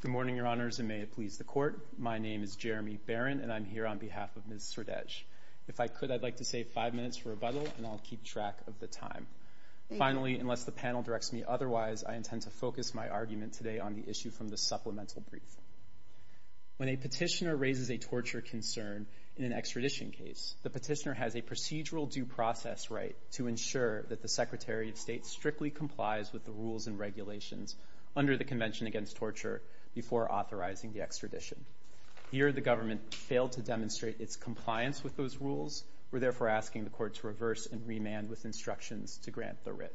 Good morning, Your Honors, and may it please the Court, my name is Jeremy Barron, and I'm here on behalf of Ms. Sridej. If I could, I'd like to save five minutes for rebuttal, and I'll keep track of the time. Finally, unless the panel directs me otherwise, I intend to focus my argument today on the issue from the supplemental brief. When a petitioner raises a torture concern in an extradition case, the petitioner has a procedural due process right to ensure that the Secretary of State strictly complies with the rules and regulations under the Convention Against Torture before authorizing the extradition. Here, the government failed to demonstrate its compliance with those rules. We're therefore asking the Court to reverse and remand with instructions to grant the writ.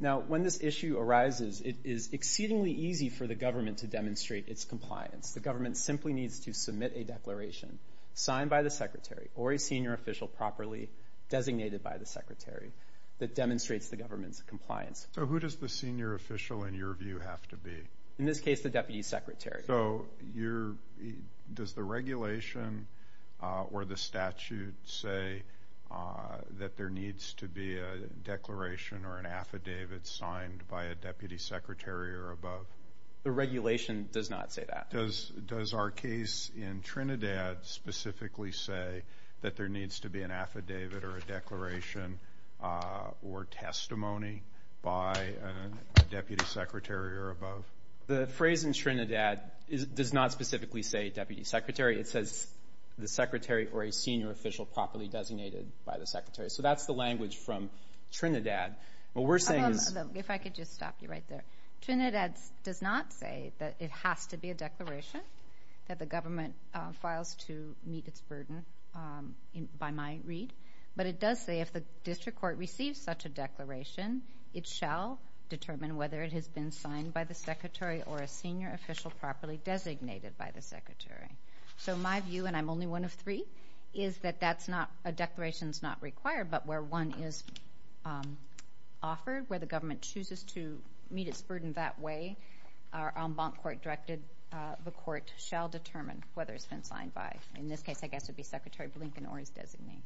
Now, when this issue arises, it is exceedingly easy for the government to demonstrate its compliance. The government simply needs to submit a declaration, signed by the Secretary or a senior official properly, designated by the Secretary, that demonstrates the government's compliance. So, who does the senior official, in your view, have to be? In this case, the Deputy Secretary. So, does the regulation or the statute say that there needs to be a declaration or an affidavit signed by a Deputy Secretary or above? The regulation does not say that. Does our case in Trinidad specifically say that there needs to be an affidavit or a declaration or testimony by a Deputy Secretary or above? The phrase in Trinidad does not specifically say Deputy Secretary. It says the Secretary or a senior official properly designated by the Secretary. So, that's the language from Trinidad. What we're saying is... that the government files to meet its burden by my read. But it does say, if the district court receives such a declaration, it shall determine whether it has been signed by the Secretary or a senior official properly designated by the Secretary. So, my view, and I'm only one of three, is that a declaration is not required, but where one is offered, where the government chooses to meet its burden that way, our en banc court directed the court shall determine whether it's been signed by. In this case, I guess it would be Secretary Blinken or his designee.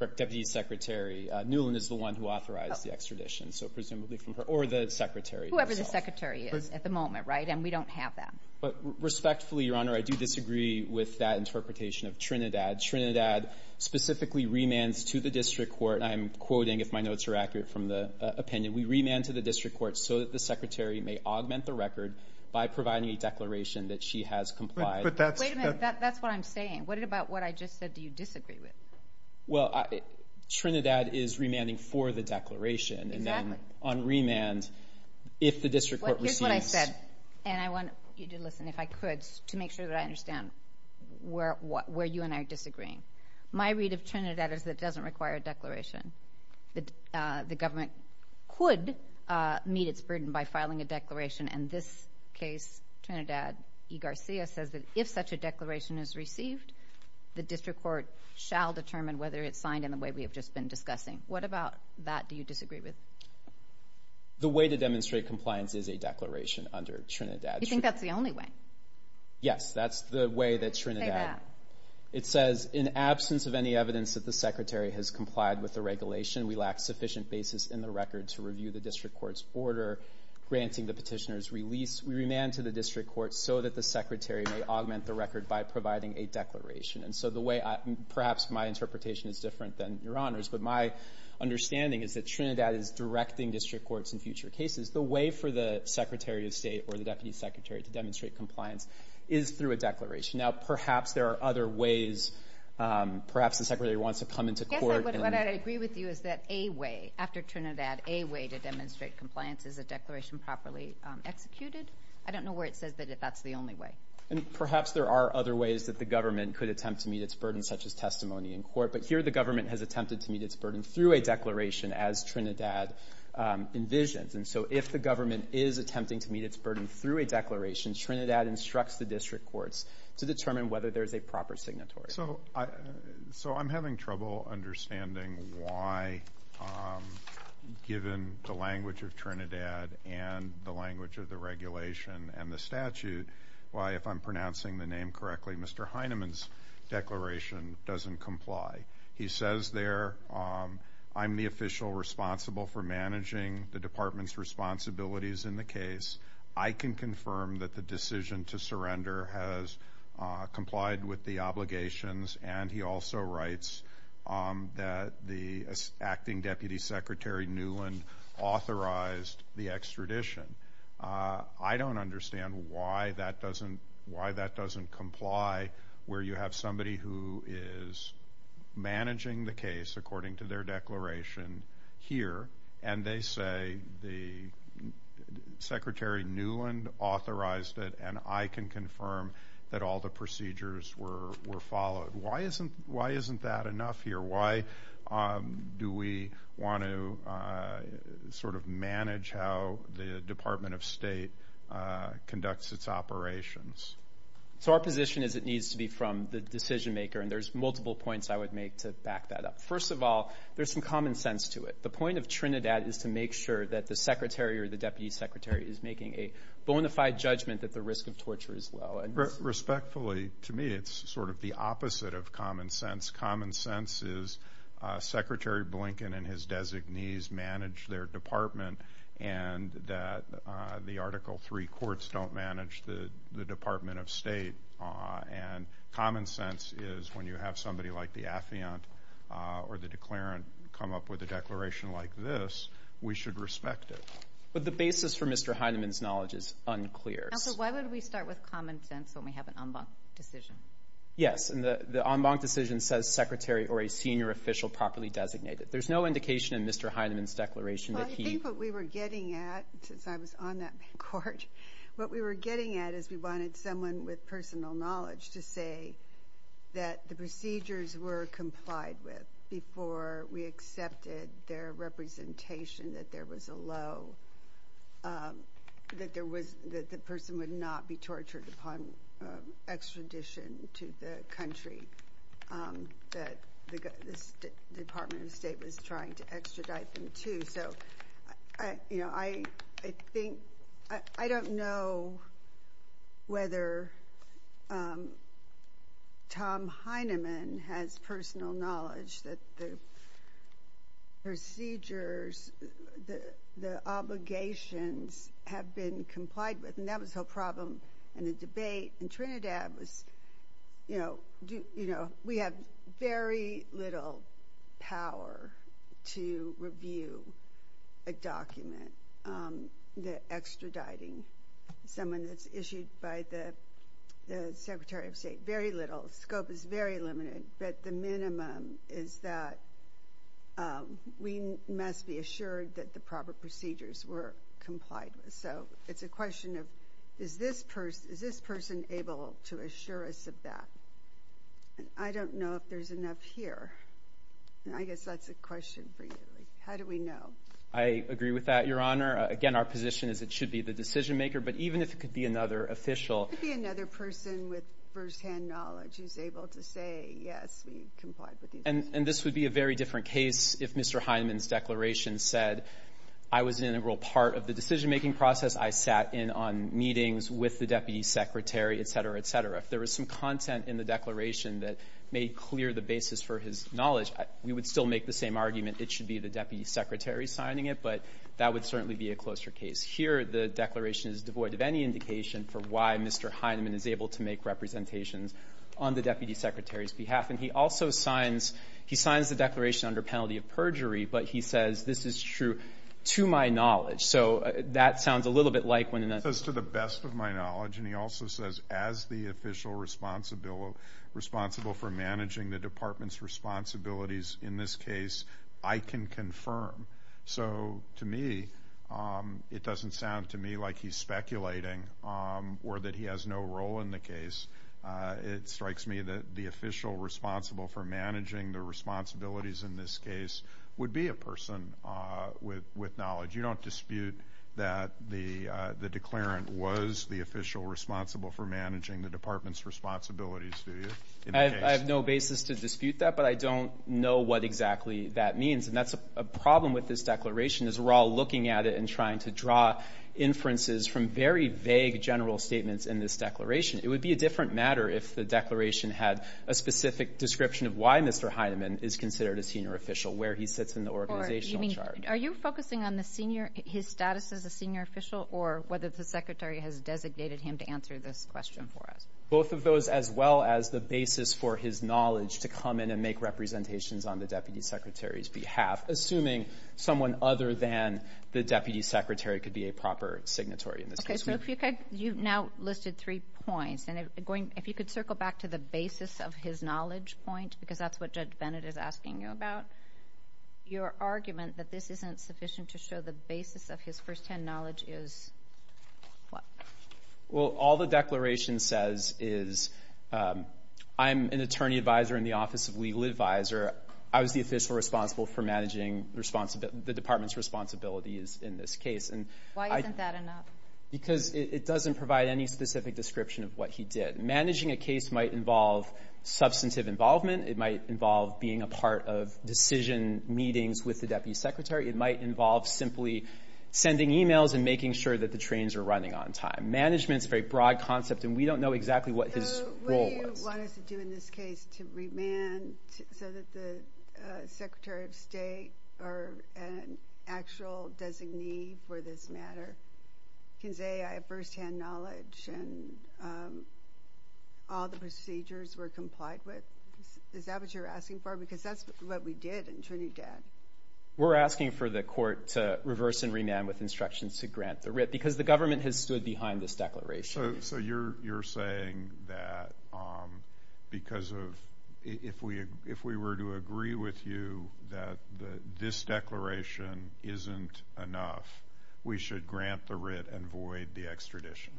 Correct, Deputy Secretary. Newland is the one who authorized the extradition, so presumably from her or the Secretary herself. Whoever the Secretary is at the moment, right? And we don't have that. But respectfully, Your Honor, I do disagree with that interpretation of Trinidad. Trinidad specifically remands to the district court, and I'm quoting, if my notes are accurate from the opinion, we remand to the district court so that the Secretary may augment the record by providing a declaration that she has complied. Wait a minute, that's what I'm saying. What about what I just said, do you disagree with? Well, Trinidad is remanding for the declaration, and then on remand, if the district court receives... Well, here's what I said, and I want you to listen, if I could, to make sure that I understand where you and I are disagreeing. My read of Trinidad is that it doesn't require a declaration. The government could meet its burden by filing a declaration, and this case, Trinidad v. Garcia, says that if such a declaration is received, the district court shall determine whether it's signed in the way we have just been discussing. What about that do you disagree with? The way to demonstrate compliance is a declaration under Trinidad. You think that's the only way? Yes, that's the way that Trinidad... Say that. It says, in absence of any evidence that the secretary has complied with the regulation, we lack sufficient basis in the record to review the district court's order granting the petitioner's release. We remand to the district court so that the secretary may augment the record by providing a declaration. Perhaps my interpretation is different than your honor's, but my understanding is that Trinidad is directing district courts in future cases. The way for the secretary of state or the deputy secretary to demonstrate compliance is through a declaration. Now, perhaps there are other ways. Perhaps the secretary wants to come into court... I guess what I'd agree with you is that a way, after Trinidad, a way to demonstrate compliance is a declaration properly executed. I don't know where it says that that's the only way. Perhaps there are other ways that the government could attempt to meet its burden, such as testimony in court, but here the government has attempted to meet its burden through a declaration as Trinidad envisions. If the government is attempting to meet its burden through a declaration, Trinidad instructs the district courts to determine whether there's a proper signatory. So I'm having trouble understanding why, given the language of Trinidad and the language of the regulation and the statute, why, if I'm pronouncing the name correctly, Mr. Heineman's declaration doesn't comply. He says there, I'm the official responsible for managing the department's responsibilities in the case. I can confirm that the decision to surrender has complied with the obligations, and he also writes that the acting deputy secretary Newland authorized the extradition. I don't understand why that doesn't comply, where you have somebody who is managing the case according to their declaration here, and they say the secretary Newland authorized it, and I can confirm that all the procedures were followed. Why isn't that enough here? Why do we want to sort of manage how the Department of State conducts its operations? So our position is it needs to be from the decision maker, and there's multiple points I would make to back that up. First of all, there's some common sense to it. The point of Trinidad is to make sure that the secretary or the deputy secretary is making a bona fide judgment that the risk of torture is low. Respectfully, to me, it's sort of the opposite of common sense. Common sense is Secretary Blinken and his designees manage their department, and that the Article III courts don't manage the Department of State, and common sense is when you have somebody like the affiant or the declarant come up with a declaration like this, we should respect it. But the basis for Mr. Heinemann's knowledge is unclear. Counsel, why would we start with common sense when we have an en banc decision? Yes, and the en banc decision says secretary or a senior official properly designated. There's no indication in Mr. Heinemann's declaration that he Well, I think what we were getting at, since I was on that court, what we were getting at is we wanted someone with personal knowledge to say that the procedures were complied with before we accepted their representation, that there was a low, that the person would not be tortured upon extradition to the country that the Department of State was trying to whether Tom Heinemann has personal knowledge that the procedures, the obligations have been complied with, and that was the problem in the debate in Trinidad was, you know, we have very little power to review a document that extraditing someone that's issued a by the Secretary of State, very little, scope is very limited, but the minimum is that we must be assured that the proper procedures were complied with. So it's a question of, is this person able to assure us of that? I don't know if there's enough here, and I guess that's a question for you. How do we know? I agree with that, Your Honor. Again, our position is it should be the decision-maker, but even if it could be another official. It could be another person with firsthand knowledge who's able to say, yes, we complied with these procedures. And this would be a very different case if Mr. Heinemann's declaration said, I was an integral part of the decision-making process. I sat in on meetings with the Deputy Secretary, et cetera, et cetera. If there was some content in the declaration that made clear the basis for his knowledge, we would still make the same argument, it should be the Deputy Secretary signing it, but that would certainly be a closer case. Here, the declaration is devoid of any indication for why Mr. Heinemann is able to make representations on the Deputy Secretary's behalf. And he also signs the declaration under penalty of perjury, but he says, this is true to my knowledge. So that sounds a little bit like when an attorney says to the best of my knowledge, and he also says as the official responsible for managing the Department's responsibilities in this case, I can confirm. So to me, it doesn't sound to me like he's speculating or that he has no role in the case. It strikes me that the official responsible for managing the responsibilities in this case would be a person with knowledge. You don't dispute that the declarant was the official responsible for managing the Department's responsibilities, do you? I have no basis to dispute that, but I don't know what exactly that means. And that's a problem with this declaration, is we're all looking at it and trying to draw inferences from very vague general statements in this declaration. It would be a different matter if the declaration had a specific description of why Mr. Heinemann is considered a senior official, where he sits in the organizational chart. Are you focusing on his status as a senior official, or whether the Secretary has designated him to answer this question for us? Both of those, as well as the basis for his knowledge to come in and make representations on the Deputy Secretary's behalf, assuming someone other than the Deputy Secretary could be a proper signatory in this case. Okay, so you've now listed three points, and if you could circle back to the basis of his knowledge point, because that's what Judge Bennett is asking you about. Your argument that this isn't sufficient to show the basis of his first-hand knowledge is, what? Well, all the declaration says is, I'm an attorney advisor in the Office of Legal Advisor. I was the official responsible for managing the department's responsibilities in this case. Why isn't that enough? Because it doesn't provide any specific description of what he did. Managing a case might involve substantive involvement. It might involve being a part of decision meetings with the Deputy Secretary. It might involve simply sending emails and making sure that the trains are running on time. Do you want us to do in this case to remand so that the Secretary of State or an actual designee for this matter can say, I have first-hand knowledge and all the procedures were complied with? Is that what you're asking for? Because that's what we did in Trinidad. We're asking for the court to reverse and remand with instructions to grant the writ, because the government has stood behind this declaration. So you're saying that because of, if we were to agree with you that this declaration isn't enough, we should grant the writ and void the extradition?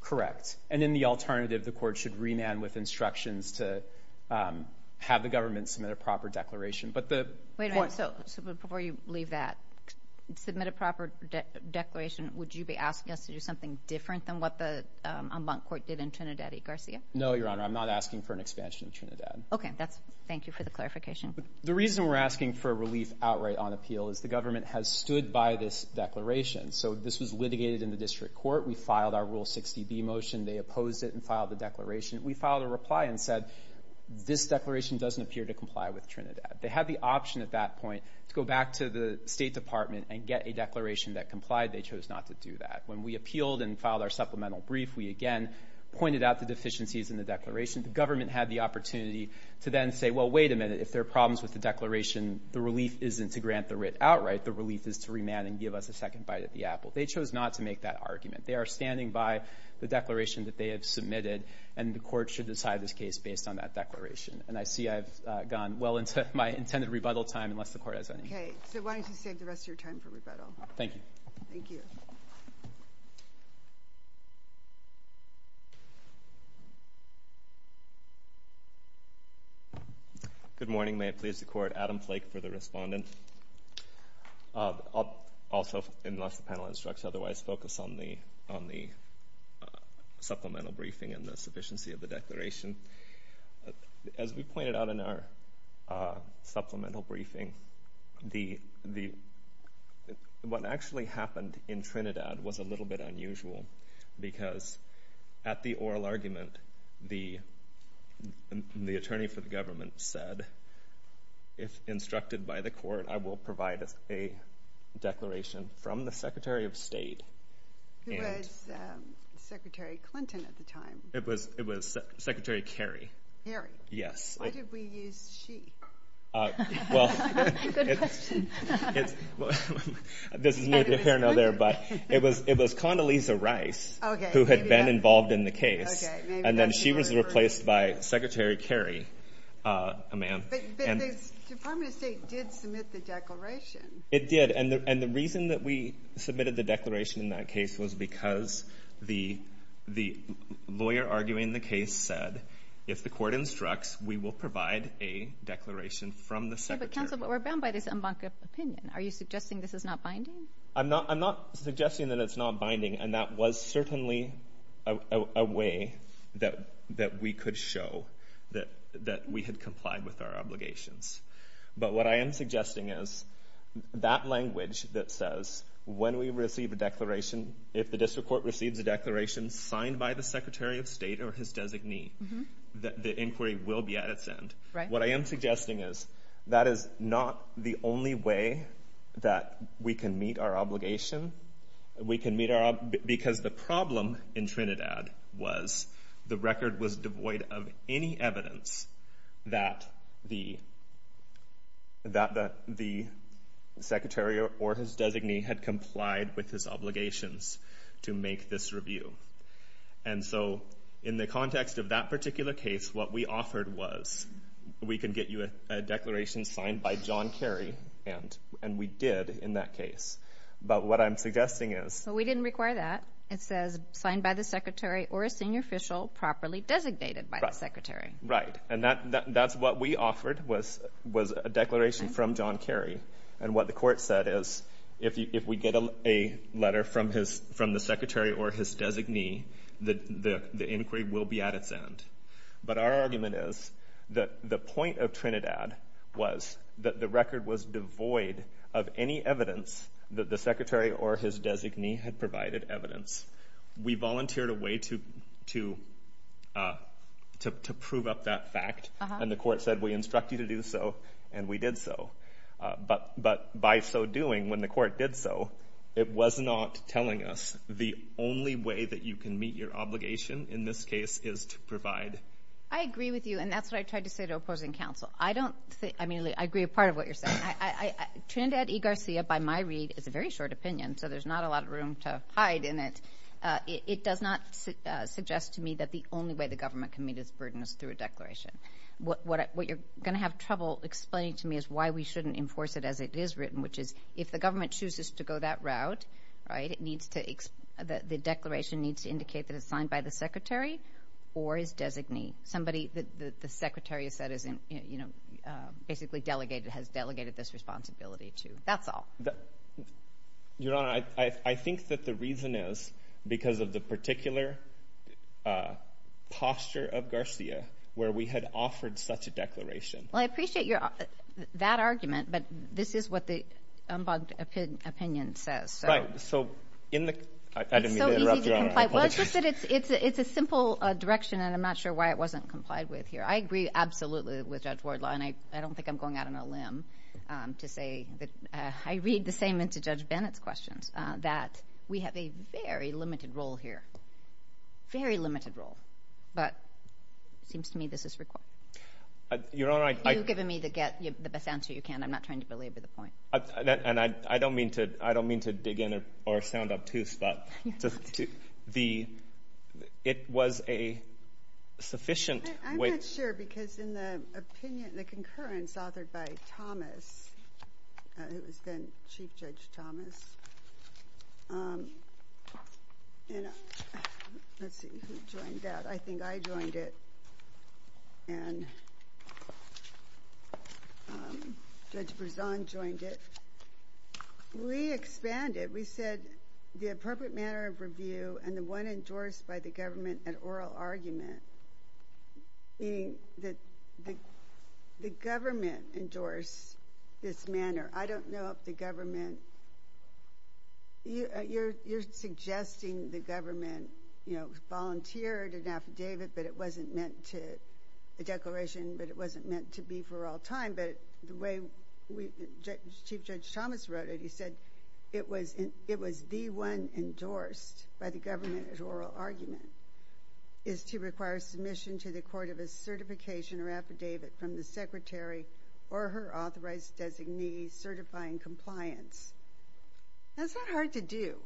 Correct. And in the alternative, the court should remand with instructions to have the government submit a proper declaration. But the point... Wait a minute. So before you leave that, submit a proper declaration, would you be asking us to do something different than what the Embankment Court did in Trinidad y Garcia? No, Your Honor. I'm not asking for an expansion in Trinidad. Okay. Thank you for the clarification. The reason we're asking for relief outright on appeal is the government has stood by this declaration. So this was litigated in the district court. We filed our Rule 60B motion. They opposed it and filed the declaration. We filed a reply and said, this declaration doesn't appear to comply with Trinidad. They had the option at that point to go back to the State Department and get a declaration that complied. They chose not to do that. When we appealed and filed our supplemental brief, we again pointed out the deficiencies in the declaration. The government had the opportunity to then say, well, wait a minute. If there are problems with the declaration, the relief isn't to grant the writ outright. The relief is to remand and give us a second bite at the apple. They chose not to make that argument. They are standing by the declaration that they have submitted, and the court should decide this case based on that declaration. And I see I've gone well into my intended rebuttal time, unless the court has any. Okay. So why don't you save the rest of your time for rebuttal? Thank you. Thank you. Thank you. Good morning. May it please the Court, Adam Flake for the respondent. I'll also, unless the panel instructs otherwise, focus on the supplemental briefing and the sufficiency of the declaration. As we pointed out in our supplemental briefing, what actually happened in Trinidad was a little bit unusual, because at the oral argument, the attorney for the government said, if instructed by the Court, I will provide a declaration from the Secretary of State. Who was Secretary Clinton at the time. It was Secretary Kerry. Kerry? Yes. Why did we use she? Good question. Well, this is new to the panel there, but it was Condoleezza Rice who had been involved in the case, and then she was replaced by Secretary Kerry, a man. But the Department of State did submit the declaration. It did, and the reason that we submitted the declaration in that case was because the lawyer arguing the case said, if the Court instructs, we will provide a declaration from the Secretary. But counsel, we're bound by this unbonded opinion. Are you suggesting this is not binding? I'm not suggesting that it's not binding, and that was certainly a way that we could show that we had complied with our obligations. But what I am suggesting is, that language that says, when we receive a declaration, if the District Court receives a declaration signed by the Secretary of State or his designee, the inquiry will be at its end. What I am suggesting is, that is not the only way that we can meet our obligation. We can meet our obligation, because the problem in Trinidad was, the record was devoid of any evidence that the Secretary or his designee had complied with his obligations to make this review. And so, in the context of that particular case, what we offered was, we can get you a declaration signed by John Kerry, and we did in that case. But what I'm suggesting is... But we didn't require that. It says, signed by the Secretary or a senior official properly designated by the Secretary. Right. And that's what we offered, was a declaration from John Kerry. And what the court said is, if we get a letter from the Secretary or his designee, the inquiry will be at its end. But our argument is, that the point of Trinidad was, that the record was devoid of any evidence that the Secretary or his designee had provided evidence. We volunteered a way to prove up that fact, and the court said we instruct you to do so, and we did so. But by so doing, when the court did so, it was not telling us the only way that you can meet your obligation in this case is to provide... I agree with you, and that's what I tried to say to opposing counsel. I don't think... I mean, I agree with part of what you're saying. Trinidad e Garcia, by my read, is a very short opinion, so there's not a lot of room to hide in it. It does not suggest to me that the only way the government can meet its burden is through a declaration. What you're going to have trouble explaining to me is why we shouldn't enforce it as it is written, which is, if the government chooses to go that route, right, it needs to... The declaration needs to indicate that it's signed by the Secretary or his designee. Somebody that the Secretary has said is basically delegated, has delegated this responsibility to. That's all. Your Honor, I think that the reason is because of the particular posture of Garcia where we had offered such a declaration. Well, I appreciate that argument, but this is what the unbugged opinion says. Right. So, in the... I didn't mean to interrupt, Your Honor. It's so easy to comply. It's a good question, and I'm not sure why it wasn't complied with here. I agree absolutely with Judge Wardlaw, and I don't think I'm going out on a limb to say that... I read the same into Judge Bennett's questions, that we have a very limited role here, very limited role, but it seems to me this is required. Your Honor, I... You've given me the best answer you can. I'm not trying to belabor the point. I don't mean to dig in or sound obtuse, but it was a sufficient weight... I'm not sure because in the opinion, the concurrence authored by Thomas, who has been Chief Judge Thomas... Let's see who joined that. I think I joined it, and Judge Brezan joined it. We expanded. We said, the appropriate manner of review and the one endorsed by the government at oral argument, meaning that the government endorsed this manner. I don't know if the government... You're suggesting the government volunteered an affidavit, but it wasn't meant to... The declaration, but it wasn't meant to be for all time, but the way Chief Judge Thomas wrote it, he said, it was the one endorsed by the government at oral argument is to require submission to the court of a certification or affidavit from the secretary or her authorized designee certifying compliance. That's not hard to do.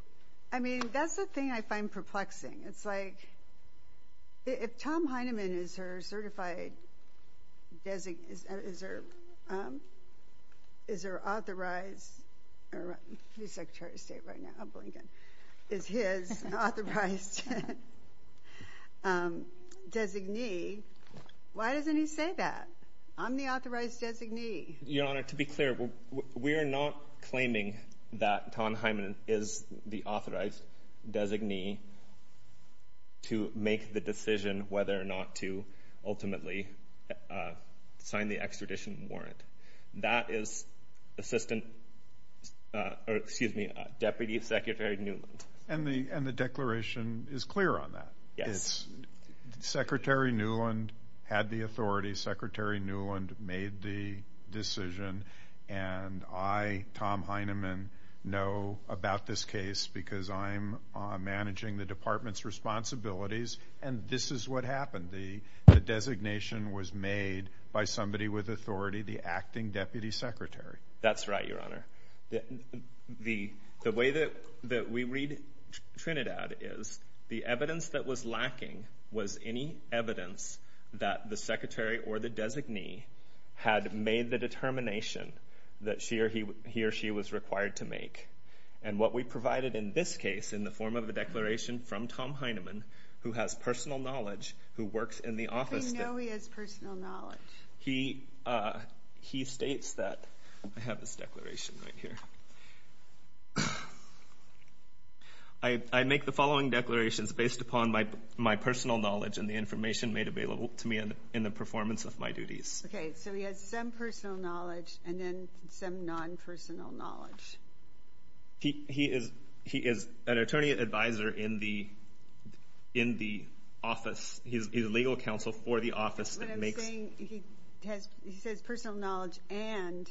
I mean, that's the thing I find perplexing. It's like, if Tom Heineman is her certified... Is her authorized... He's Secretary of State right now, I'm going again. Is his authorized designee, why doesn't he say that? I'm the authorized designee. To be clear, we're not claiming that Tom Heineman is the authorized designee to make the decision whether or not to ultimately sign the extradition warrant. That is Deputy Secretary Newland. And the declaration is clear on that. Secretary Newland had the authority. Secretary Newland made the decision. And I, Tom Heineman, know about this case because I'm managing the department's responsibilities and this is what happened. The designation was made by somebody with authority, the acting Deputy Secretary. That's right, Your Honor. The way that we read Trinidad is the evidence that was lacking was any evidence that the Deputy Secretary or the designee had made the determination that he or she was required to make. And what we provided in this case, in the form of a declaration from Tom Heineman, who has personal knowledge, who works in the office... We know he has personal knowledge. He states that... I have his declaration right here. I make the following declarations based upon my personal knowledge and the information made available to me in the performance of my duties. Okay, so he has some personal knowledge and then some non-personal knowledge. He is an attorney advisor in the office. He's a legal counsel for the office that makes... What I'm saying, he says personal knowledge and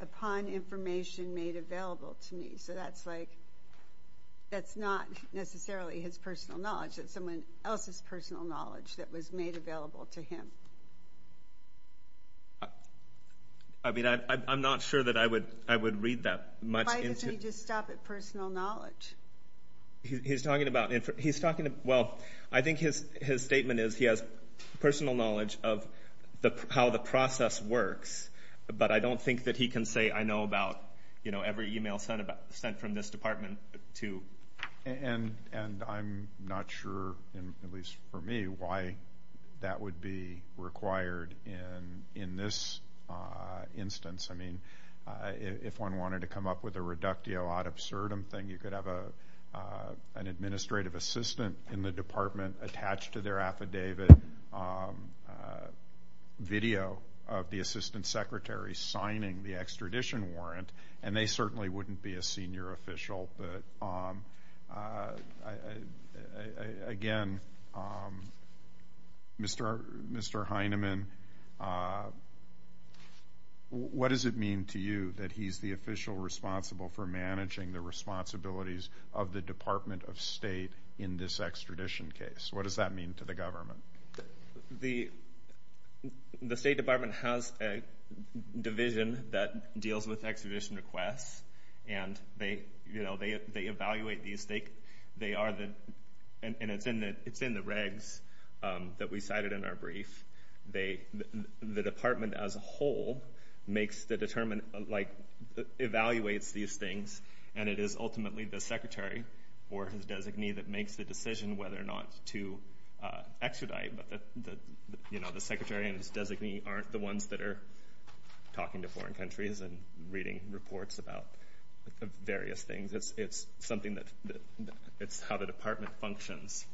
upon information made available to me. So that's like, that's not necessarily his personal knowledge, that's someone else's personal knowledge that was made available to him. I mean, I'm not sure that I would read that much into... Why doesn't he just stop at personal knowledge? He's talking about... He's talking about... Well, I think his statement is he has personal knowledge of how the process works, but I don't think that he can say, I know about every email sent from this department to... And I'm not sure, at least for me, why that would be required in this instance. I mean, if one wanted to come up with a reductio ad absurdum thing, you could have an administrative assistant in the department attached to their affidavit, video of the assistant secretary signing the extradition warrant. And they certainly wouldn't be a senior official, but again, Mr. Heinemann, what does it mean to you that he's the official responsible for managing the responsibilities of the Department of State in this extradition case? What does that mean to the government? The State Department has a division that deals with extradition requests, and they evaluate these... They are the... And it's in the regs that we cited in our brief. The department as a whole makes the determined... Evaluates these things, and it is ultimately the secretary or his designee that makes the decision tonight. But the secretary and his designee aren't the ones that are talking to foreign countries and reading reports about various things. It's something that... It's how the department functions,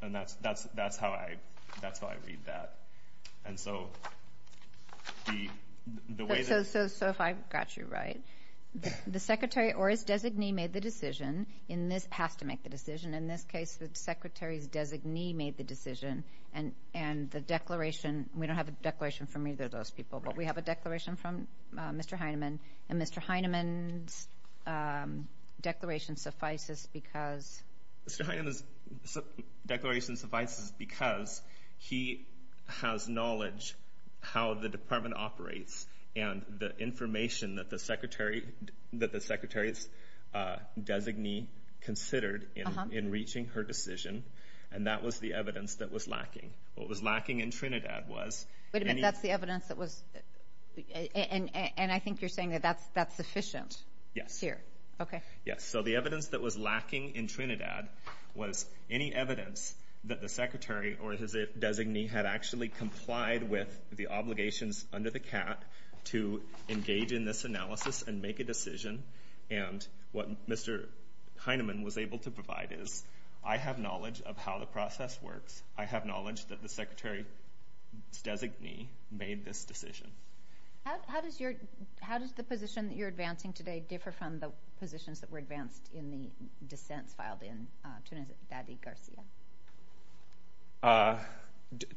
and that's how I read that. And so the way that... So if I've got you right, the secretary or his designee made the decision, in this... Has to make the decision. In this case, the secretary's designee made the decision, and the declaration... We don't have a declaration from either of those people, but we have a declaration from Mr. Heinemann, and Mr. Heinemann's declaration suffices because... Mr. Heinemann's declaration suffices because he has knowledge how the department operates and the information that the secretary's designee considered in reaching her decision, and that was the evidence that was lacking. What was lacking in Trinidad was... Wait a minute. That's the evidence that was... And I think you're saying that that's sufficient here. Yes. Okay. Yes. So the evidence that was lacking in Trinidad was any evidence that the secretary or his designee had actually complied with the obligations under the CAT to engage in this analysis and make a decision. And what Mr. Heinemann was able to provide is, I have knowledge of how the process works. I have knowledge that the secretary's designee made this decision. How does your... How does the position that you're advancing today differ from the positions that were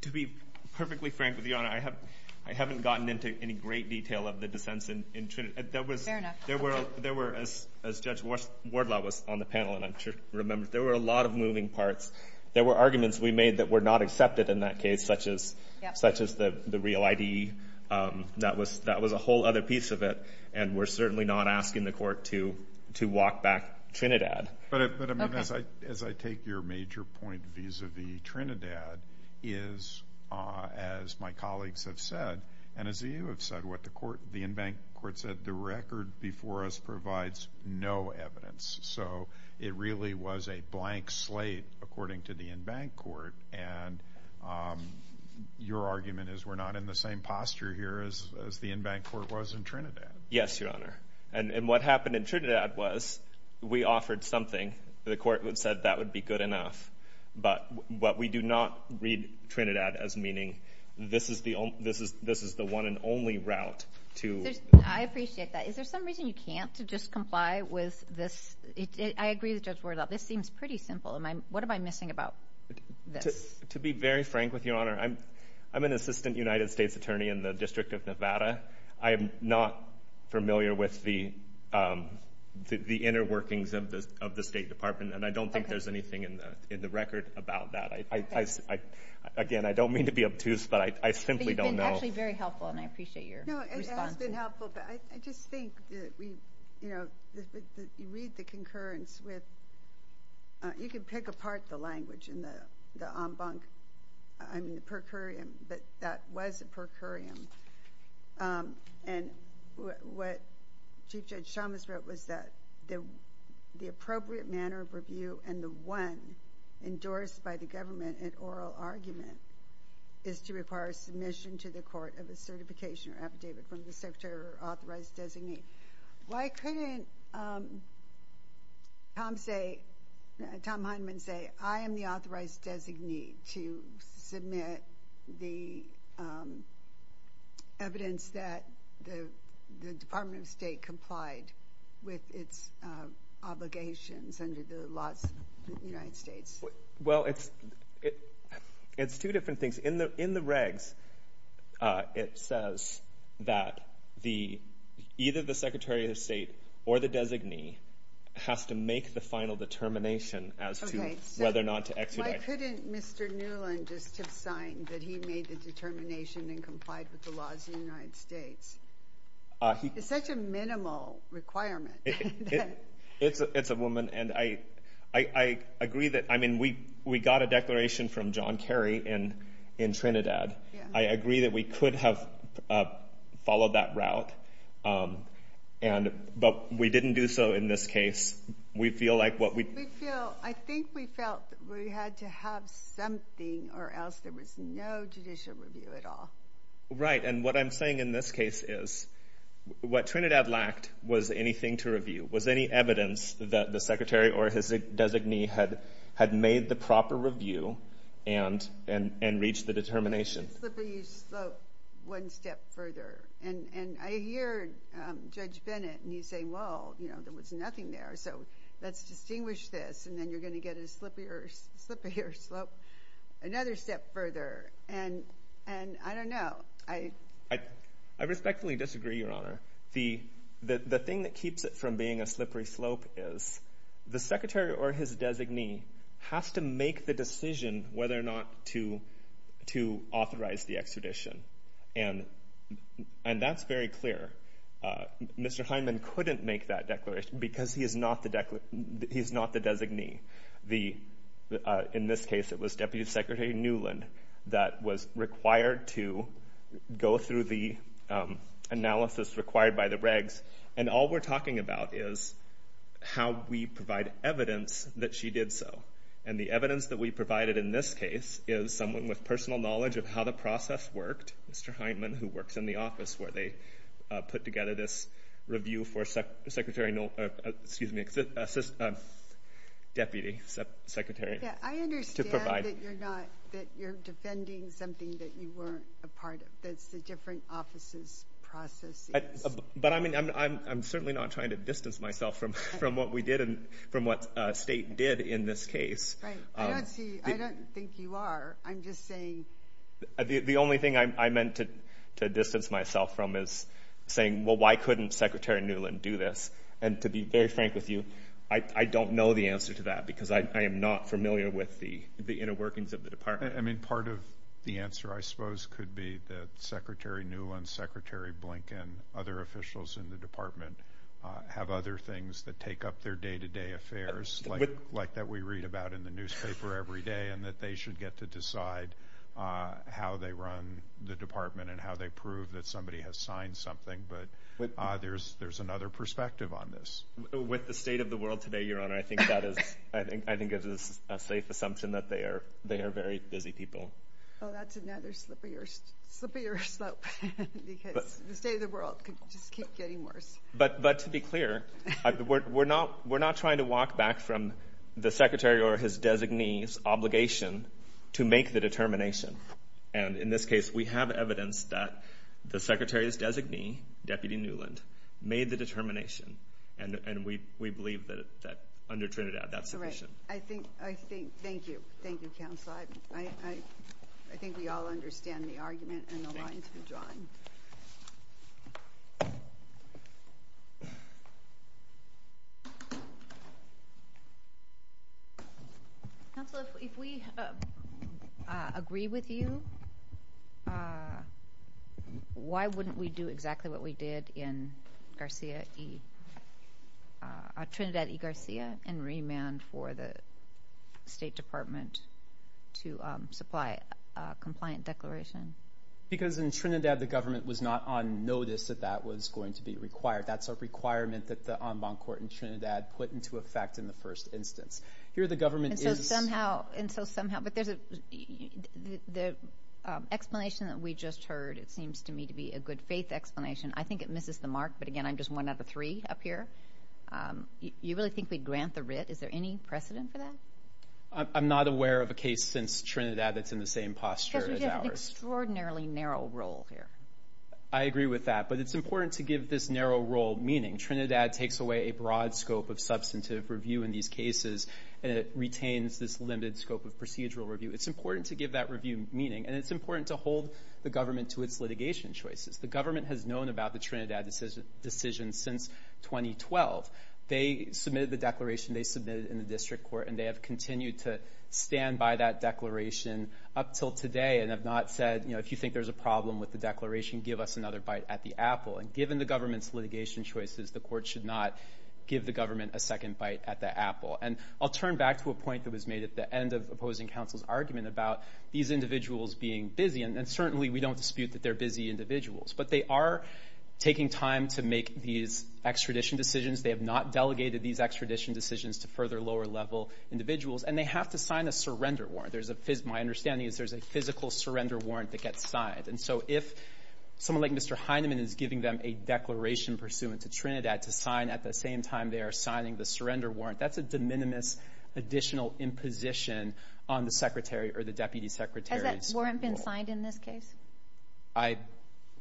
To be perfectly frank with you, Your Honor, I haven't gotten into any great detail of the dissents in Trinidad. Fair enough. There were, as Judge Wardlaw was on the panel, and I'm sure you remember, there were a lot of moving parts. There were arguments we made that were not accepted in that case, such as the real ID. That was a whole other piece of it, and we're certainly not asking the court to walk back Trinidad. Okay. As I take your major point vis-a-vis Trinidad, is, as my colleagues have said, and as you have said, what the court, the in-bank court said, the record before us provides no evidence. So it really was a blank slate according to the in-bank court, and your argument is we're not in the same posture here as the in-bank court was in Trinidad. Yes, Your Honor. And what happened in Trinidad was we offered something. The court said that would be good enough. But we do not read Trinidad as meaning this is the one and only route to... I appreciate that. Is there some reason you can't just comply with this? I agree with Judge Wardlaw. This seems pretty simple. What am I missing about this? To be very frank with you, Your Honor, I'm an assistant United States attorney in the District of Nevada. I am not familiar with the inner workings of the State Department, and I don't think there's anything in the record about that. Again, I don't mean to be obtuse, but I simply don't know. But you've been actually very helpful, and I appreciate your response. No, it has been helpful, but I just think that we, you know, you read the concurrence with... You can pick apart the language in the en banc, I mean, the per curiam, but that was a per curiam. And what Chief Judge Chalmers wrote was that the appropriate manner of review and the one endorsed by the government in oral argument is to require submission to the court of a certification or affidavit from the secretary or authorized designee. Why couldn't Tom say, Tom Hindman say, I am the authorized designee to submit the evidence that the Department of State complied with its obligations under the laws of the United States? Well, it's two different things. In the regs, it says that either the Secretary of State or the designee has to make the final determination as to whether or not to exudate. Why couldn't Mr. Newland just have signed that he made the determination and complied with the laws of the United States? It's such a minimal requirement. It's a woman, and I agree that, I mean, we got a declaration from John Kerry in Trinidad. I agree that we could have followed that route, but we didn't do so in this case. We feel like what we... We feel... I think we felt that we had to have something or else there was no judicial review at all. Right. And what I'm saying in this case is, what Trinidad lacked was anything to review, was any evidence that the Secretary or his designee had made the proper review and reached the determination. Slippery slope one step further, and I hear Judge Bennett, and he's saying, well, there was nothing there, so let's distinguish this, and then you're going to get a slippier slope another step further. And I don't know. I respectfully disagree, Your Honor. The thing that keeps it from being a slippery slope is the Secretary or his designee has to make the decision whether or not to authorize the extradition, and that's very clear. Mr. Hyman couldn't make that declaration because he's not the designee. In this case, it was Deputy Secretary Newland that was required to go through the analysis required by the regs, and all we're talking about is how we provide evidence that she did so, and the evidence that we provided in this case is someone with personal knowledge of how the process worked, Mr. Hyman, who works in the office where they put together this review for Deputy Secretary to provide. I understand that you're defending something that you weren't a part of, that's the different offices process. But I'm certainly not trying to distance myself from what we did and from what State did in this case. Right. I don't think you are. I'm just saying... The only thing I meant to distance myself from is saying, well, why couldn't Secretary Newland do this? And to be very frank with you, I don't know the answer to that because I am not familiar with the inner workings of the department. I mean, part of the answer, I suppose, could be that Secretary Newland, Secretary Blinken, other officials in the department have other things that take up their day-to-day affairs, like that we read about in the newspaper every day and that they should get to decide how they run the department and how they prove that somebody has signed something. But there's another perspective on this. With the state of the world today, Your Honor, I think that is, I think it is a safe assumption that they are very busy people. Oh, that's another slipperier slope because the state of the world could just keep getting worse. But to be clear, we're not trying to walk back from the Secretary or his designee's obligation to make the determination. And in this case, we have evidence that the Secretary's designee, Deputy Newland, made the determination. And we believe that under Trinidad, that's sufficient. All right. I think... Thank you. Thank you, Counselor. I think we all understand the argument and the lines we're drawing. Counselor, if we agree with you, why wouldn't we do exactly what we did in Garcia E., Trinidad and remand for the State Department to supply a compliant declaration? Because in Trinidad, the government was not on notice that that was going to be required. That's a requirement that the en banc court in Trinidad put into effect in the first instance. Here the government is... And so somehow... And so somehow... But there's a... The explanation that we just heard, it seems to me to be a good faith explanation. I think it misses the mark. But again, I'm just one out of three up here. You really think we'd grant the writ? Is there any precedent for that? I'm not aware of a case since Trinidad that's in the same posture as ours. Because we have an extraordinarily narrow role here. I agree with that. But it's important to give this narrow role meaning. Trinidad takes away a broad scope of substantive review in these cases, and it retains this limited scope of procedural review. It's important to give that review meaning, and it's important to hold the government to its litigation choices. The government has known about the Trinidad decision since 2012. They submitted the declaration, they submitted it in the district court, and they have continued to stand by that declaration up till today, and have not said, if you think there's a problem with the declaration, give us another bite at the apple. And given the government's litigation choices, the court should not give the government a second bite at the apple. And I'll turn back to a point that was made at the end of opposing counsel's argument about these individuals being busy. And certainly, we don't dispute that they're busy individuals. But they are taking time to make these extradition decisions. They have not delegated these extradition decisions to further lower-level individuals. And they have to sign a surrender warrant. My understanding is there's a physical surrender warrant that gets signed. And so if someone like Mr. Heineman is giving them a declaration pursuant to Trinidad to sign at the same time they are signing the surrender warrant, that's a de minimis additional imposition on the secretary or the deputy secretary's role. The warrant been signed in this case? I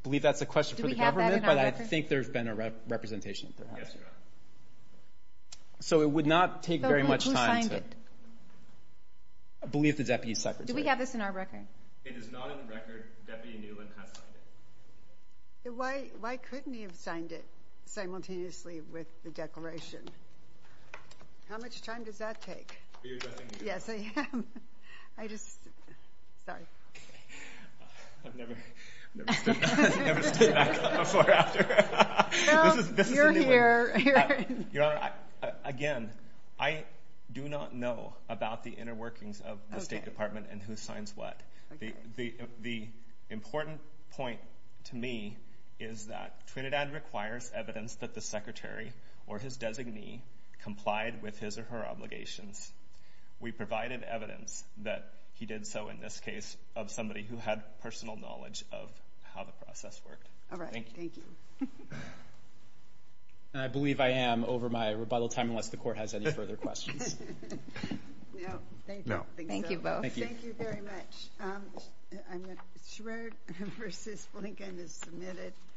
believe that's a question for the government, but I think there's been a representation that has. So it would not take very much time to believe the deputy secretary. Do we have this in our record? It is not in the record. Deputy Newland has signed it. Why couldn't he have signed it simultaneously with the declaration? How much time does that take? Are you addressing me? Yes, I am. I just... Sorry. I've never stood back up before after. Well, you're here. Your Honor, again, I do not know about the inner workings of the State Department and who signs what. The important point to me is that Trinidad requires evidence that the secretary or his designee complied with his or her obligations. We provided evidence that he did so in this case of somebody who had personal knowledge of how the process worked. All right. Thank you. And I believe I am over my rebuttal time unless the court has any further questions. No. Thank you. Thank you both. Thank you. Thank you very much. I'm going to... Schwerd versus Blinken is submitted.